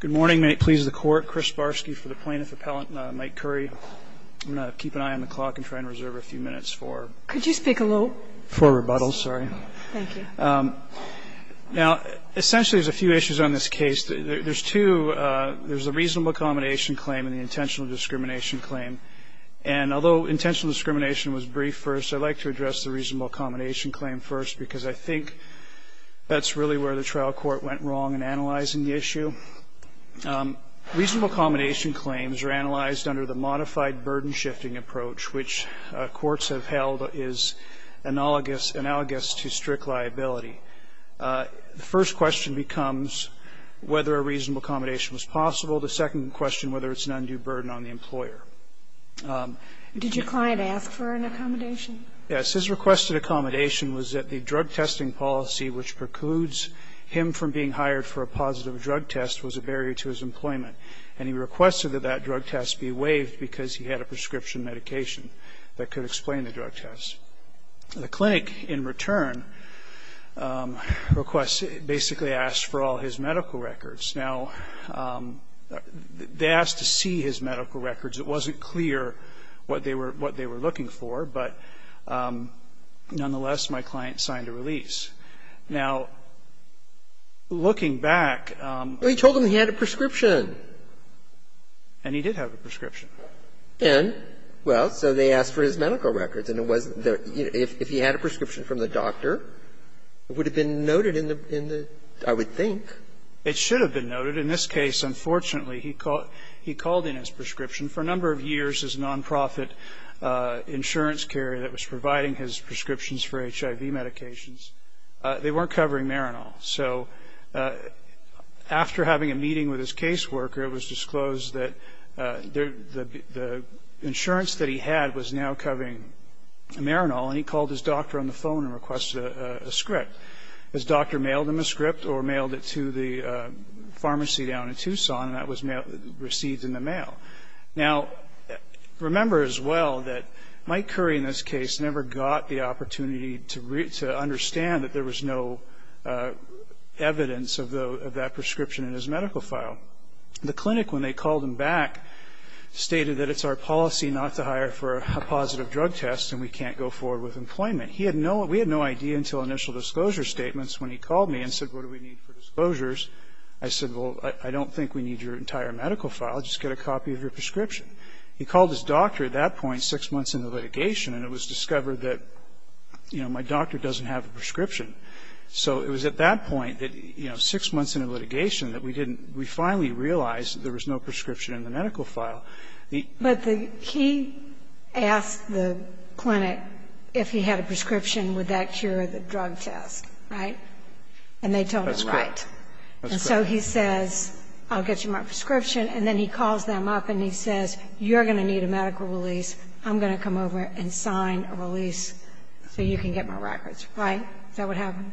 Good morning. May it please the Court, Chris Barsky for the Plaintiff Appellant, Mike Currie. I'm going to keep an eye on the clock and try and reserve a few minutes for- Could you speak a little- For rebuttals, sorry. Thank you. Now, essentially there's a few issues on this case. There's two, there's a reasonable accommodation claim and the intentional discrimination claim. And although intentional discrimination was brief first, I'd like to address the reasonable accommodation claim first because I think that's really where the trial court went wrong in analyzing the issue. Reasonable accommodation claims are analyzed under the modified burden-shifting approach, which courts have held is analogous to strict liability. The first question becomes whether a reasonable accommodation was possible. The second question, whether it's an undue burden on the employer. Did your client ask for an accommodation? Yes. His requested accommodation was that the drug testing policy, which precludes him from being hired for a positive drug test, was a barrier to his employment. And he requested that that drug test be waived because he had a prescription medication that could explain the drug test. The clinic, in return, basically asked for all his medical records. Now, they asked to see his medical records. It wasn't clear what they were looking for. But nonetheless, my client signed a release. Now, looking back, he told them he had a prescription. And he did have a prescription. And? Well, so they asked for his medical records. And if he had a prescription from the doctor, it would have been noted in the, I would think. It should have been noted. In this case, unfortunately, he called in his prescription. For a number of years, his nonprofit insurance carrier that was providing his prescriptions for HIV medications, they weren't covering Marinol. So after having a meeting with his caseworker, it was disclosed that the insurance that he had was now covering Marinol. And he called his doctor on the phone and requested a script. His doctor mailed him a script or mailed it to the pharmacy down in Tucson. And that was received in the mail. Now, remember as well that Mike Curry in this case never got the opportunity to understand that there was no evidence of that prescription in his medical file. The clinic, when they called him back, stated that it's our policy not to hire for a positive drug test and we can't go forward with employment. He had no idea until initial disclosure statements when he called me and said, what do we need for disclosures? I said, well, I don't think we need your entire medical file. Just get a copy of your prescription. He called his doctor at that point six months into litigation and it was discovered that, you know, my doctor doesn't have a prescription. So it was at that point that, you know, six months into litigation that we didn't we finally realized that there was no prescription in the medical file. The But he asked the clinic if he had a prescription, would that cure the drug test, right? And they told him right. And so he says, I'll get you my prescription. And then he calls them up and he says, you're going to need a medical release. I'm going to come over and sign a release so you can get my records. Right? Is that what happened?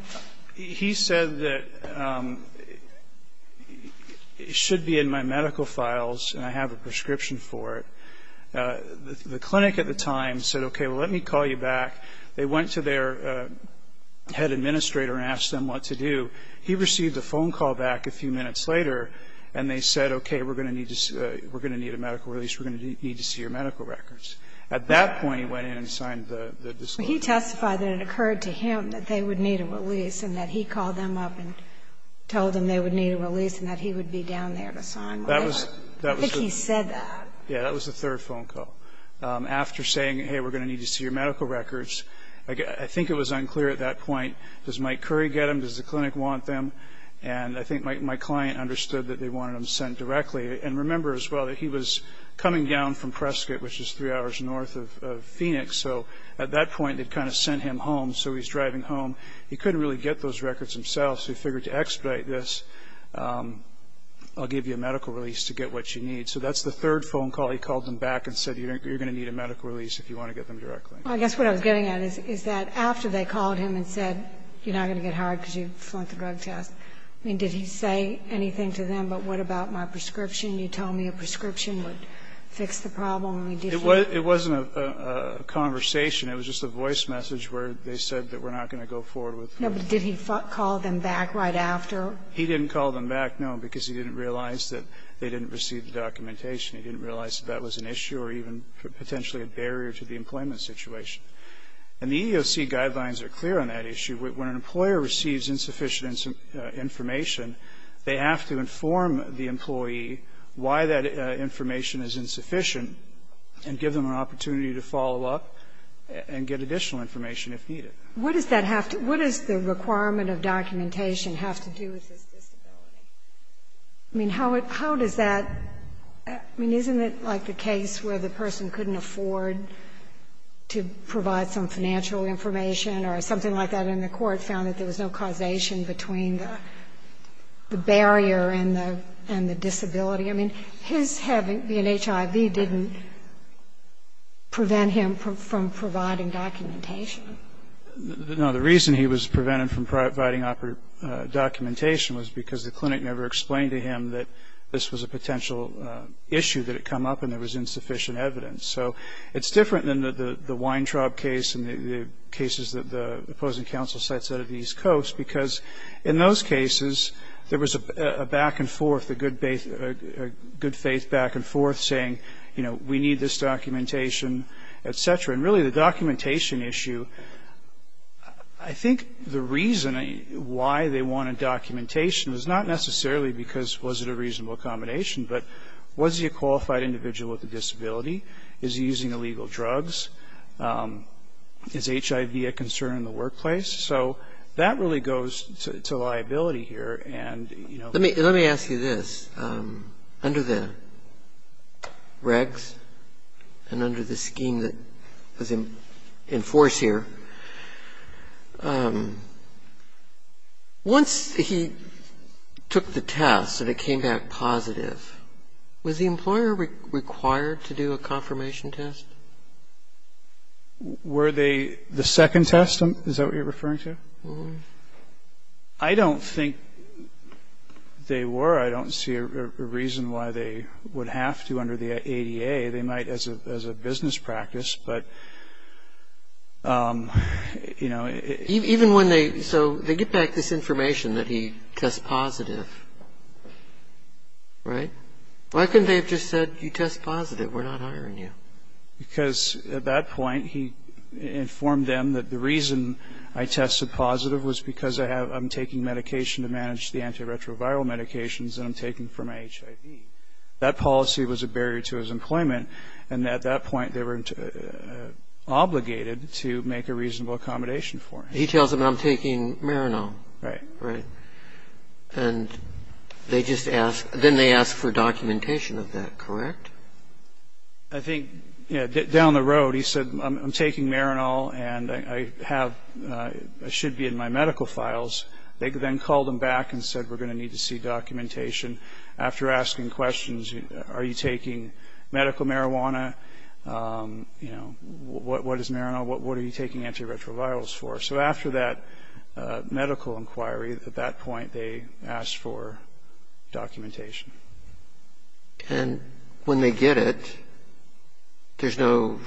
He said that it should be in my medical files and I have a prescription for it. The clinic at the time said, okay, well, let me call you back. They went to their head administrator and asked them what to do. He received a phone call back a few minutes later and they said, okay, we're going to need a medical release, we're going to need to see your medical records. At that point he went in and signed the disclosure. But he testified that it occurred to him that they would need a release and that he called them up and told them they would need a release and that he would be down there to sign the release. I think he said that. Yeah. That was the third phone call. After saying, hey, we're going to need to see your medical records, I think it was unclear at that point, does Mike Curry get them? Does the clinic want them? And I think my client understood that they wanted them sent directly. And remember as well that he was coming down from Prescott, which is three hours north of Phoenix. So at that point they kind of sent him home. So he's driving home. He couldn't really get those records himself, so he figured to expedite this, I'll give you a medical release to get what you need. So that's the third phone call. He called them back and said you're going to need a medical release if you want to get them directly. Well, I guess what I was getting at is that after they called him and said you're going to get hired because you flunked the drug test, I mean, did he say anything to them about what about my prescription? You told me a prescription would fix the problem. It wasn't a conversation. It was just a voice message where they said that we're not going to go forward with it. No, but did he call them back right after? He didn't call them back, no, because he didn't realize that they didn't receive the documentation. He didn't realize that that was an issue or even potentially a barrier to the employment situation. And the EEOC guidelines are clear on that issue. When an employer receives insufficient information, they have to inform the employee why that information is insufficient and give them an opportunity to follow up and get additional information if needed. What does that have to be? What does the requirement of documentation have to do with this disability? I mean, how does that – I mean, isn't it like the case where the person couldn't afford to provide some financial information or something like that, and the court found that there was no causation between the barrier and the disability? I mean, his having HIV didn't prevent him from providing documentation. No, the reason he was prevented from providing documentation was because the clinic never explained to him that this was a potential issue that had come up and there was insufficient evidence. So it's different than the Weintraub case and the cases that the opposing counsel cites out of the East Coast, because in those cases there was a back and forth, a good faith back and forth saying, you know, we need this documentation, et cetera. And really the documentation issue, I think the reason why they wanted documentation was not necessarily because was it a reasonable accommodation, but was he a qualified individual with a disability? Is he using illegal drugs? Is HIV a concern in the workplace? So that really goes to liability here. Let me ask you this. Under the regs and under the scheme that was in force here, once he took the test and it came back positive, was the employer required to do a confirmation test? Were they the second test? Is that what you're referring to? I don't think they were. I don't see a reason why they would have to under the ADA. They might as a business practice, but, you know. So they get back this information that he tests positive, right? Why couldn't they have just said, you test positive, we're not hiring you? Because at that point he informed them that the reason I tested positive was because I'm taking medication to manage the antiretroviral medications and I'm taking from HIV. That policy was a barrier to his employment, and at that point they were obligated to make a reasonable accommodation for him. He tells them I'm taking Marinol. Right. Right. And then they ask for documentation of that, correct? I think, yeah, down the road he said I'm taking Marinol and I should be in my medical files. They then called him back and said we're going to need to see documentation. After asking questions, are you taking medical marijuana? You know, what is Marinol? What are you taking antiretrovirals for? So after that medical inquiry, at that point they asked for documentation. And when they get it, there's no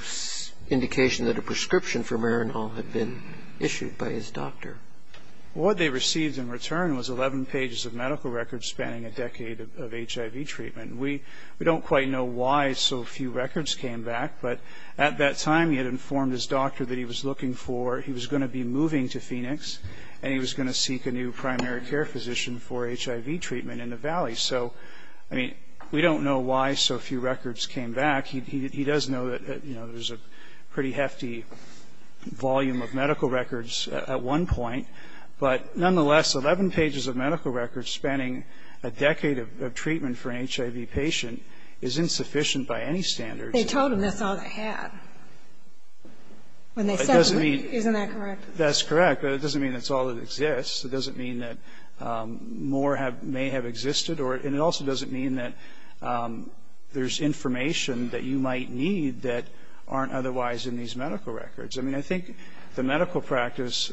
indication that a prescription for Marinol had been issued by his doctor. What they received in return was 11 pages of medical records spanning a decade of HIV treatment. We don't quite know why so few records came back, but at that time he had informed his doctor that he was looking for, he was going to be moving to Phoenix and he was going to seek a new primary care physician for HIV treatment in the Valley. So, I mean, we don't know why so few records came back. He does know that, you know, there's a pretty hefty volume of medical records at one point. But nonetheless, 11 pages of medical records spanning a decade of treatment for an HIV patient is insufficient by any standards. They told him that's all they had when they sent him. Isn't that correct? That's correct. But it doesn't mean that's all that exists. It doesn't mean that more may have existed. And it also doesn't mean that there's information that you might need that aren't otherwise in these medical records. I mean, I think the medical practice,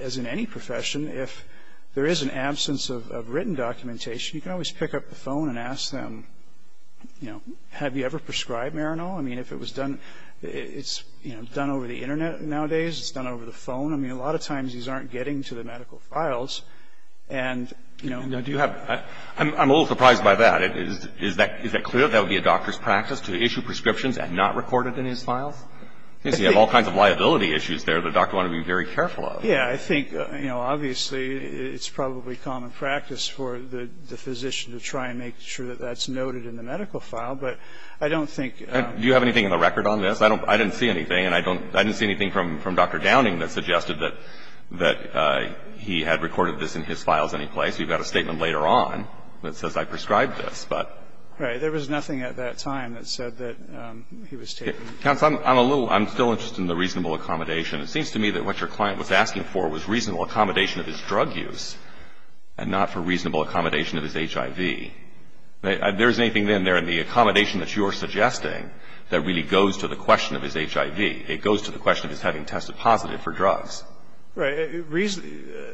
as in any profession, if there is an absence of written documentation, you can always pick up the phone and ask them, you know, have you ever prescribed Marinol? I mean, if it was done, it's, you know, done over the Internet nowadays. It's done over the phone. I mean, a lot of times these aren't getting to the medical files. And, you know, do you have I'm a little surprised by that. Is that clear? That would be a doctor's practice to issue prescriptions and not record it in his files? Yes. You have all kinds of liability issues there the doctor would want to be very careful of. Yeah. I think, you know, obviously it's probably common practice for the physician to try and make sure that that's noted in the medical file. But I don't think Do you have anything in the record on this? I didn't see anything. I didn't see anything from Dr. Downing that suggested that he had recorded this in his files any place. We've got a statement later on that says I prescribed this. Right. There was nothing at that time that said that he was taking Counsel, I'm still interested in the reasonable accommodation. It seems to me that what your client was asking for was reasonable accommodation of his drug use and not for reasonable accommodation of his HIV. There's anything then there in the accommodation that you're suggesting that really goes to the question of his HIV. It goes to the question of his having tested positive for drugs. Right.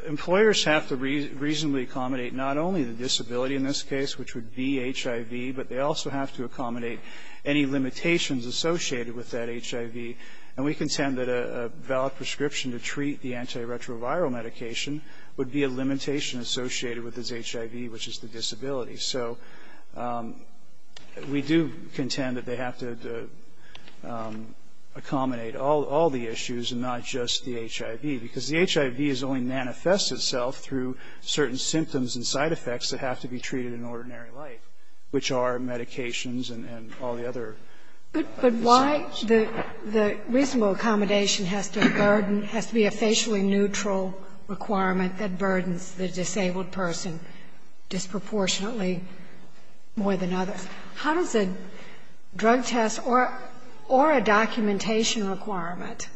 Employers have to reasonably accommodate not only the disability in this case, which would be HIV, but they also have to accommodate any limitations associated with that HIV. And we contend that a valid prescription to treat the antiretroviral medication would be a limitation associated with his HIV, which is the disability. So we do contend that they have to accommodate all the issues and not just the HIV, because the HIV has only manifested itself through certain symptoms and side effects that have to be treated in ordinary life, which are medications and all the other. But why the reasonable accommodation has to burden, has to be a facially neutral requirement that burdens the disabled person disproportionately more than others? How does a drug test or a documentation requirement,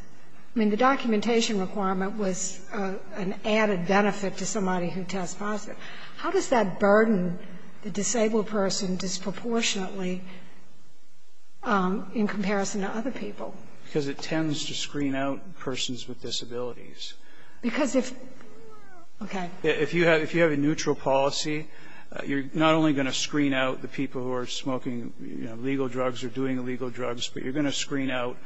I mean, the documentation requirement was an added benefit to somebody who tests positive. How does that burden the disabled person disproportionately in comparison to other people? Because it tends to screen out persons with disabilities. Because if, okay. If you have a neutral policy, you're not only going to screen out the people who are smoking, you know, legal drugs or doing illegal drugs, but you're going to screen out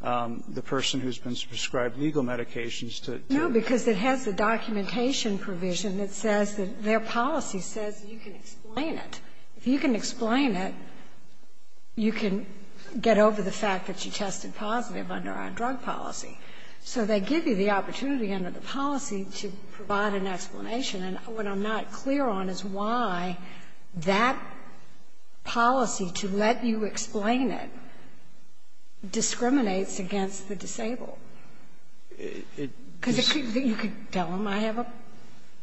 the person who's been prescribed legal medications to. No, because it has a documentation provision that says that their policy says you can explain it. If you can explain it, you can get over the fact that you tested positive under our drug policy. So they give you the opportunity under the policy to provide an explanation. And what I'm not clear on is why that policy to let you explain it discriminates against the disabled. It's just that you can tell them, I have a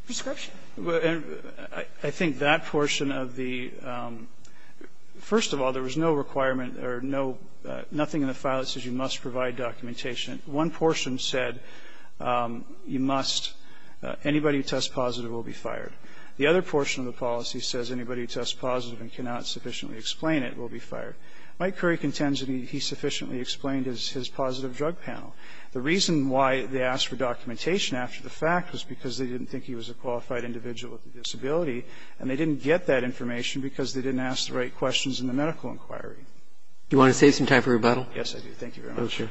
prescription. And I think that portion of the – first of all, there was no requirement or no – nothing in the file that says you must provide documentation. One portion said you must – anybody who tests positive will be fired. The other portion of the policy says anybody who tests positive and cannot sufficiently explain it will be fired. Mike Curry contends that he sufficiently explained his positive drug panel. The reason why they asked for documentation after the fact was because they didn't think he was a qualified individual with a disability, and they didn't get that information because they didn't ask the right questions in the medical inquiry. Do you want to save some time for rebuttal? Yes, I do. Thank you very much.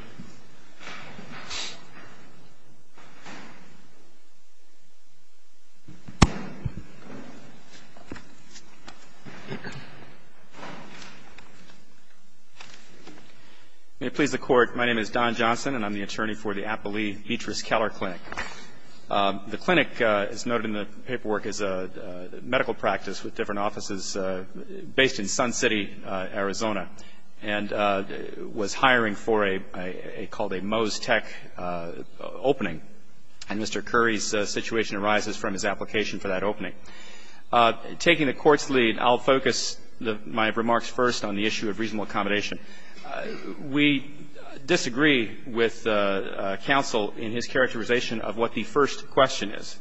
May it please the Court. My name is Don Johnson, and I'm the attorney for the Appalee-Beatrice Keller Clinic. The clinic is noted in the paperwork as a medical practice with different offices based in Sun City, Arizona, and was hiring for a – called a Moe's Tech opening. And Mr. Curry's situation arises from his application for that opening. Taking the Court's lead, I'll focus my remarks first on the issue of reasonable accommodation. We disagree with counsel in his characterization of what the first question is.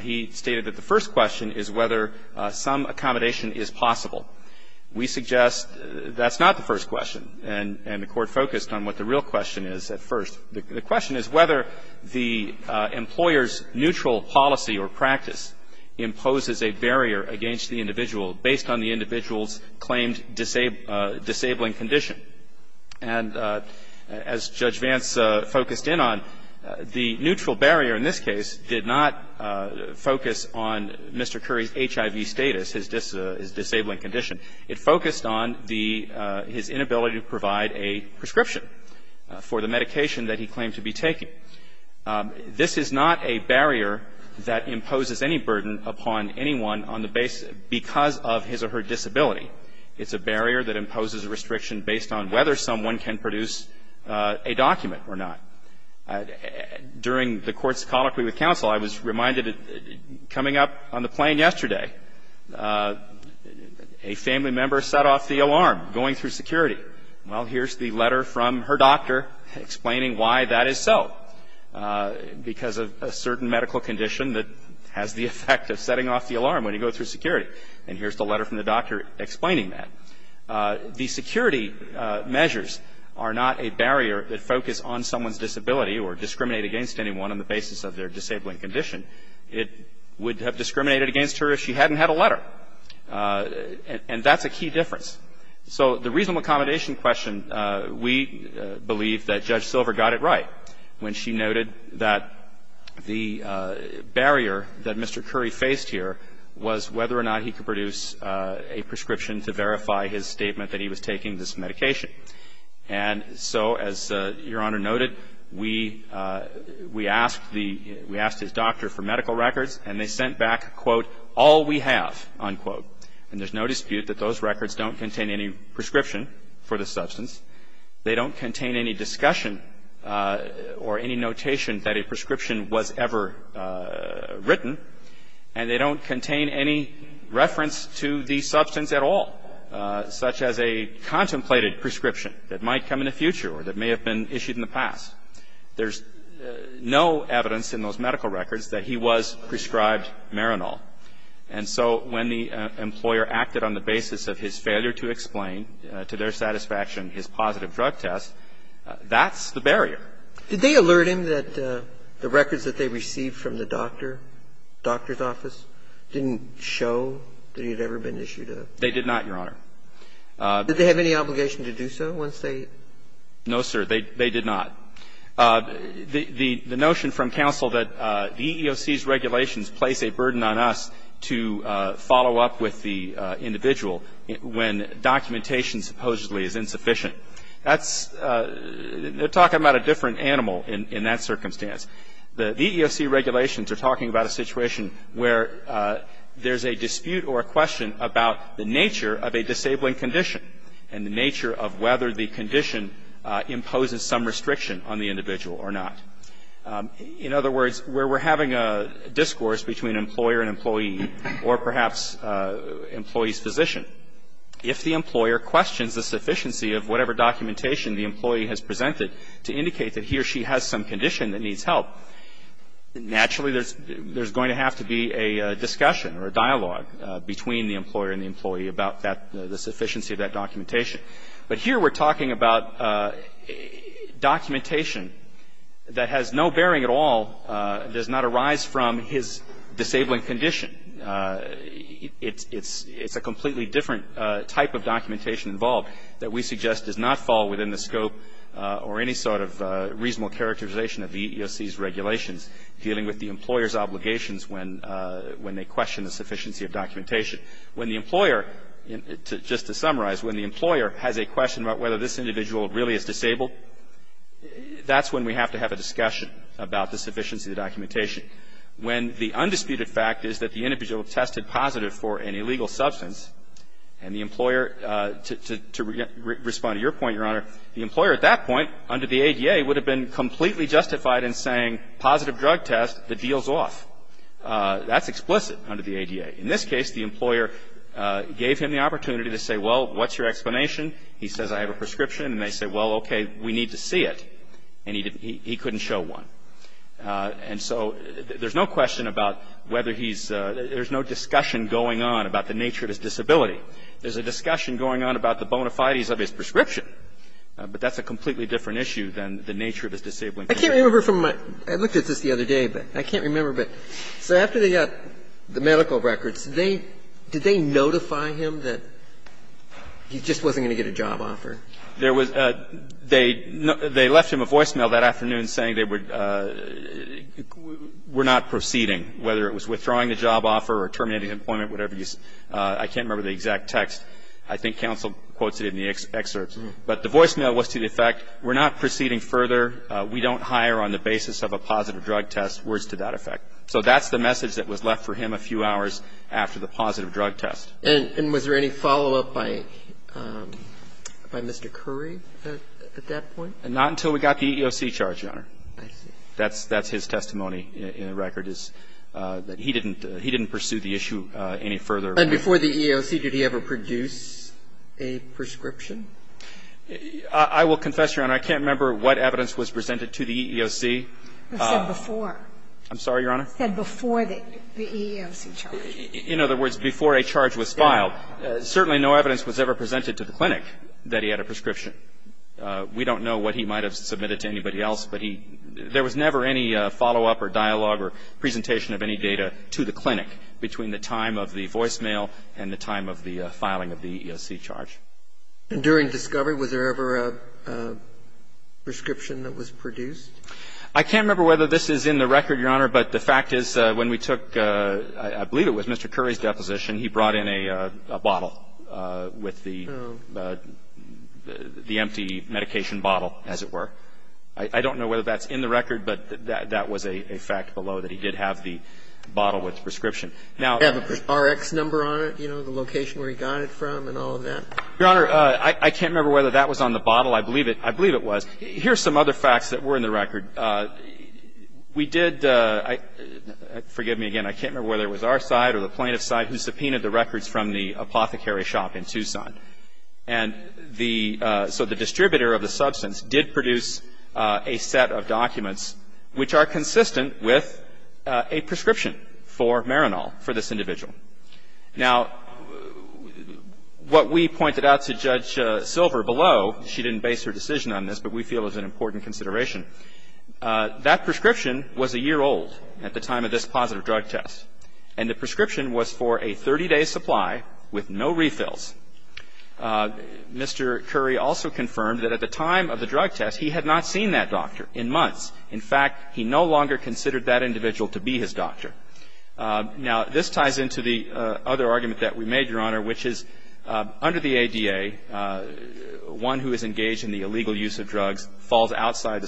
He stated that the first question is whether some accommodation is possible. We suggest that's not the first question, and the Court focused on what the real question is at first. The question is whether the employer's neutral policy or practice imposes a barrier against the individual based on the individual's claimed disabling condition. And as Judge Vance focused in on, the neutral barrier in this case did not focus on Mr. Curry's HIV status, his disabling condition. It focused on the – his inability to provide a prescription for the medication that he claimed to be taking. This is not a barrier that imposes any burden upon anyone on the basis – because of his or her disability. It's a barrier that imposes a restriction based on whether someone can produce a document or not. During the Court's colloquy with counsel, I was reminded coming up on the plane yesterday, a family member set off the alarm going through security. Well, here's the letter from her doctor explaining why that is so, because of a certain medical condition that has the effect of setting off the alarm when you go through security. And here's the letter from the doctor explaining that. The security measures are not a barrier that focus on someone's disability or discriminate against anyone on the basis of their disabling condition. It would have discriminated against her if she hadn't had a letter. And that's a key difference. So the reasonable accommodation question, we believe that Judge Silver got it right when she noted that the barrier that Mr. Curry faced here was whether or not he could produce a prescription to verify his statement that he was taking this medication. And so, as Your Honor noted, we asked the – we asked his doctor for medical records, and they sent back, quote, all we have, unquote. And there's no dispute that those records don't contain any prescription for the substance. They don't contain any discussion or any notation that a prescription was ever written, and they don't contain any reference to the substance at all, such as a contemplated prescription that might come in the future or that may have been issued in the past. There's no evidence in those medical records that he was prescribed Marinol. And so when the employer acted on the basis of his failure to explain to their satisfaction his positive drug test, that's the barrier. Did they alert him that the records that they received from the doctor, doctor's office, didn't show that he had ever been issued a prescription? They did not, Your Honor. Did they have any obligation to do so once they? No, sir. They did not. The notion from counsel that the EEOC's regulations place a burden on us to follow up with the individual when documentation supposedly is insufficient, that's they're talking about a different animal in that circumstance. The EEOC regulations are talking about a situation where there's a dispute or a question about the nature of a disabling condition and the nature of whether the condition imposes some restriction on the individual or not. In other words, where we're having a discourse between employer and employee or perhaps employee's physician, if the employer questions the sufficiency of whatever documentation the employee has presented to indicate that he or she has some condition that needs help, naturally there's going to have to be a discussion or a dialogue between the employer and the employee about that, the sufficiency of that documentation. But here we're talking about documentation that has no bearing at all, does not arise from his disabling condition. It's a completely different type of documentation involved that we suggest does not fall within the scope or any sort of reasonable characterization of the EEOC's regulations dealing with the employer's obligations when they question the sufficiency of documentation. When the employer, just to summarize, when the employer has a question about whether this individual really is disabled, that's when we have to have a discussion about the sufficiency of the documentation. When the undisputed fact is that the individual tested positive for an illegal substance and the employer, to respond to your point, Your Honor, the employer at that point under the ADA would have been completely justified in saying positive drug test, the deal's off. That's explicit under the ADA. In this case, the employer gave him the opportunity to say, well, what's your explanation? He says, I have a prescription. And they say, well, okay, we need to see it. And he couldn't show one. And so there's no question about whether he's, there's no discussion going on about the nature of his disability. There's a discussion going on about the bona fides of his prescription. But that's a completely different issue than the nature of his disabling condition. I can't remember from my, I looked at this the other day, but I can't remember. But so after they got the medical records, they, did they notify him that he just wasn't going to get a job offer? There was, they left him a voicemail that afternoon saying they were not proceeding, whether it was withdrawing the job offer or terminating employment, whatever you, I can't remember the exact text. I think counsel quotes it in the excerpts. But the voicemail was to the effect, we're not proceeding further. We don't hire on the basis of a positive drug test. Words to that effect. So that's the message that was left for him a few hours after the positive drug test. And was there any follow-up by Mr. Curry at that point? Not until we got the EEOC charge, Your Honor. I see. That's his testimony in the record is that he didn't pursue the issue any further. And before the EEOC, did he ever produce a prescription? I will confess, Your Honor, I can't remember what evidence was presented to the EEOC. It said before. I'm sorry, Your Honor? It said before the EEOC charge. In other words, before a charge was filed, certainly no evidence was ever presented to the clinic that he had a prescription. We don't know what he might have submitted to anybody else, but he, there was never any follow-up or dialogue or presentation of any data to the clinic between the time of the voicemail and the time of the filing of the EEOC charge. And during discovery, was there ever a prescription that was produced? I can't remember whether this is in the record, Your Honor, but the fact is when we took, I believe it was Mr. Curry's deposition, he brought in a bottle with the empty medication bottle, as it were. I don't know whether that's in the record, but that was a fact below that he did have the bottle with the prescription. Did he have an RX number on it, you know, the location where he got it from and all of that? Your Honor, I can't remember whether that was on the bottle. I believe it was. Here's some other facts that were in the record. We did, forgive me again, I can't remember whether it was our side or the plaintiff's side who subpoenaed the records from the apothecary shop in Tucson. And the, so the distributor of the substance did produce a set of documents which are consistent with a prescription for Marinol for this individual. Now, what we pointed out to Judge Silver below, she didn't base her decision on this, but we feel is an important consideration. That prescription was a year old at the time of this positive drug test. And the prescription was for a 30-day supply with no refills. Mr. Curry also confirmed that at the time of the drug test he had not seen that doctor in months. In fact, he no longer considered that individual to be his doctor. Now, this ties into the other argument that we made, Your Honor, which is under the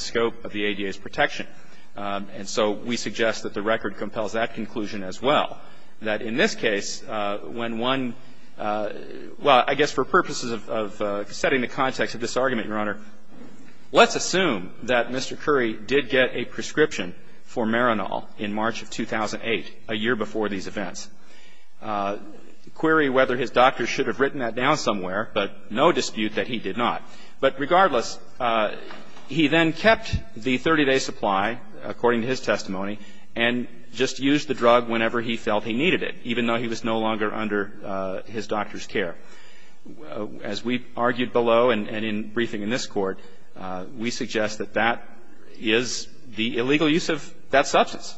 scope of the ADA's protection. And so we suggest that the record compels that conclusion as well. That in this case, when one, well, I guess for purposes of setting the context of this argument, Your Honor, let's assume that Mr. Curry did get a prescription for Marinol in March of 2008, a year before these events. Query whether his doctor should have written that down somewhere, but no dispute that he did not. But regardless, he then kept the 30-day supply, according to his testimony, and just used the drug whenever he felt he needed it, even though he was no longer under his doctor's care. As we argued below and in briefing in this Court, we suggest that that is the illegal use of that substance.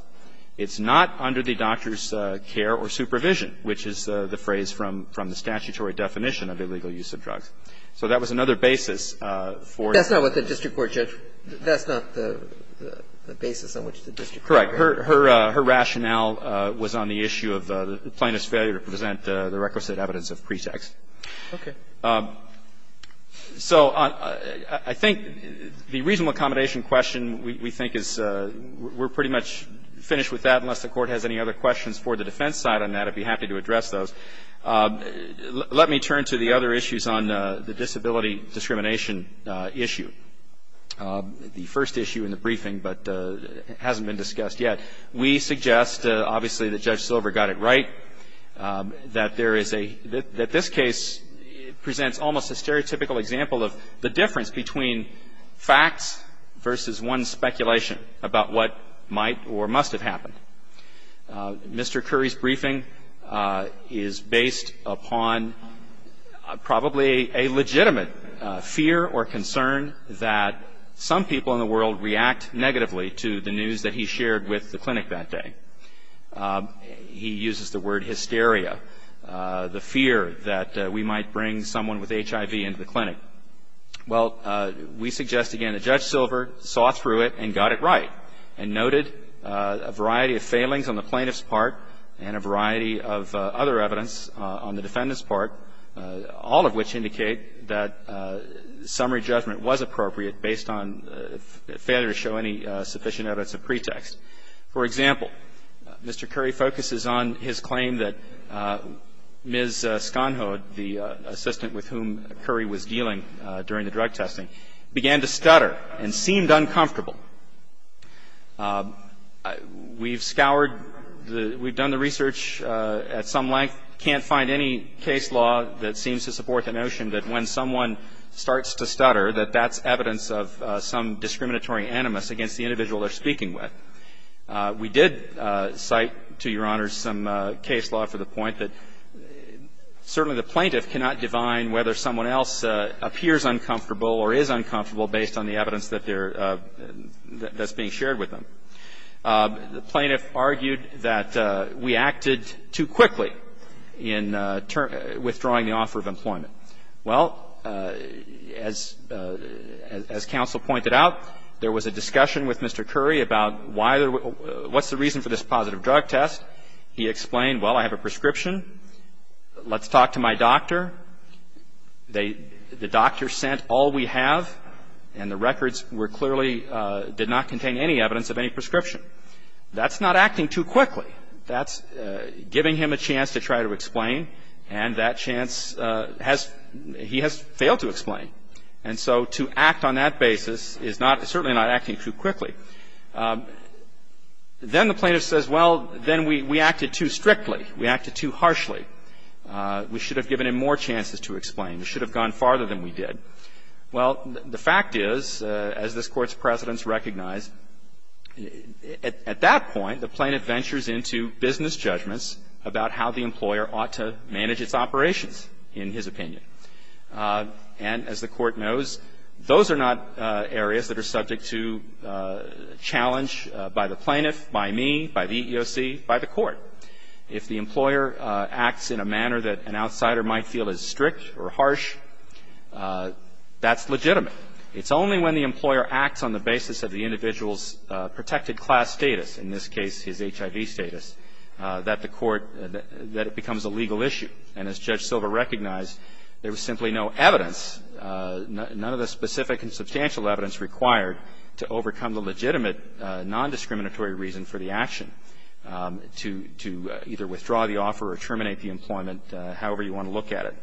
It's not under the doctor's care or supervision, which is the phrase from the statutory definition of illegal use of drugs. So that was another basis for the case. That's not what the district court judged. That's not the basis on which the district court argued. Correct. Her rationale was on the issue of the plaintiff's failure to present the requisite evidence of pretext. Okay. So I think the reasonable accommodation question we think is we're pretty much finished with that, unless the Court has any other questions for the defense side on that. I'd be happy to address those. Let me turn to the other issues on the disability discrimination issue. The first issue in the briefing, but it hasn't been discussed yet, we suggest obviously that Judge Silver got it right, that there is a, that this case presents almost a stereotypical example of the difference between facts versus one speculation about what might or must have happened. Mr. Curry's briefing is based upon probably a legitimate fear or concern that some people in the world react negatively to the news that he shared with the clinic that day. He uses the word hysteria, the fear that we might bring someone with HIV into the clinic. Well, we suggest again that Judge Silver saw through it and got it right and noted a variety of failings on the plaintiff's part and a variety of other evidence on the defendant's part, all of which indicate that summary judgment was appropriate based on failure to show any sufficient evidence of pretext. For example, Mr. Curry focuses on his claim that Ms. Schonhold, the assistant with whom Curry was dealing during the drug testing, began to stutter and seemed uncomfortable. We've scoured, we've done the research at some length, can't find any case law that seems to support the notion that when someone starts to stutter, that that's evidence of some discriminatory animus against the individual they're speaking with. We did cite, to Your Honors, some case law for the point that certainly the plaintiff cannot divine whether someone else appears uncomfortable or is uncomfortable based on the evidence that they're, that's being shared with them. The plaintiff argued that we acted too quickly in withdrawing the offer of employment. Well, as counsel pointed out, there was a discussion with Mr. Curry about why there was, what's the reason for this positive drug test. He explained, well, I have a prescription. Let's talk to my doctor. They, the doctor sent all we have, and the records were clearly, did not contain any evidence of any prescription. That's not acting too quickly. That's giving him a chance to try to explain, and that chance has, he has failed to explain. And so to act on that basis is not, certainly not acting too quickly. Then the plaintiff says, well, then we acted too strictly. We acted too harshly. We should have given him more chances to explain. We should have gone farther than we did. Well, the fact is, as this Court's precedents recognize, at that point, the plaintiff ventures into business judgments about how the employer ought to manage its operations, in his opinion. And as the Court knows, those are not areas that are subject to challenge by the plaintiff, by me, by the EEOC, by the Court. If the employer acts in a manner that an outsider might feel is strict or harsh, that's legitimate. It's only when the employer acts on the basis of the individual's protected class status, in this case his HIV status, that the Court, that it becomes a legal issue. And as Judge Silva recognized, there was simply no evidence, none of the specific and substantial evidence required to overcome the legitimate nondiscriminatory reason for the action to either withdraw the offer or terminate the employment however you want to look at it.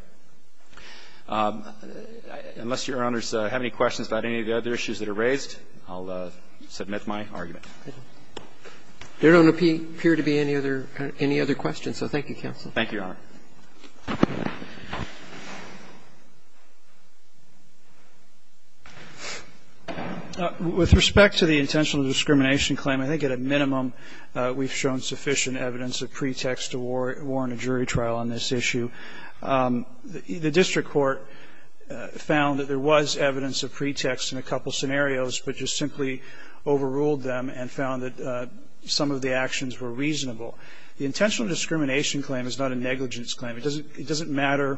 Unless Your Honors have any questions about any of the other issues that are raised, I'll submit my argument. There don't appear to be any other questions, so thank you, counsel. Thank you, Your Honor. With respect to the intentional discrimination claim, I think at a minimum we've shown sufficient evidence of pretext to warrant a jury trial on this issue. The district court found that there was evidence of pretext in a couple scenarios, but just simply overruled them and found that some of the actions were reasonable. The intentional discrimination claim is not a negligence claim. It doesn't matter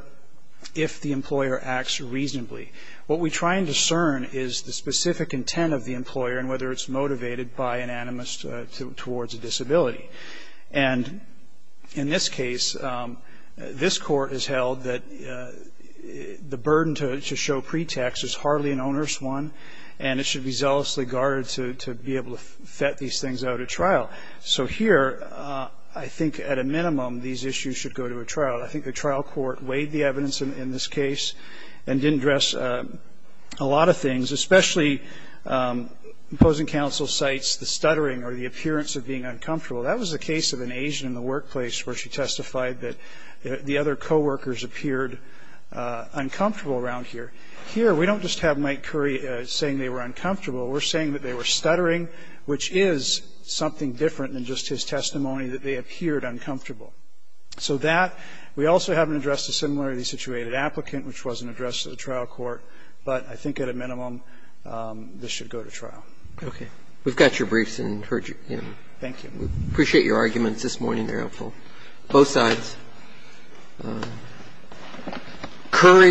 if the employer acts reasonably. What we try and discern is the specific intent of the employer and whether it's motivated by an animus towards a disability. And in this case, this Court has held that the burden to show pretext is hardly an issue to be zealously guarded to be able to vet these things out at trial. So here I think at a minimum these issues should go to a trial. I think the trial court weighed the evidence in this case and didn't address a lot of things, especially imposing counsel's sights, the stuttering or the appearance of being uncomfortable. That was the case of an Asian in the workplace where she testified that the other co-workers appeared uncomfortable around here. Here we don't just have Mike Curry saying they were uncomfortable. We're saying that they were stuttering, which is something different than just his testimony that they appeared uncomfortable. So that we also haven't addressed the similarity-situated applicant, which wasn't addressed at the trial court, but I think at a minimum this should go to trial. Okay. We've got your briefs and heard you. Thank you. We appreciate your arguments this morning. They're helpful. Both sides. Thank you.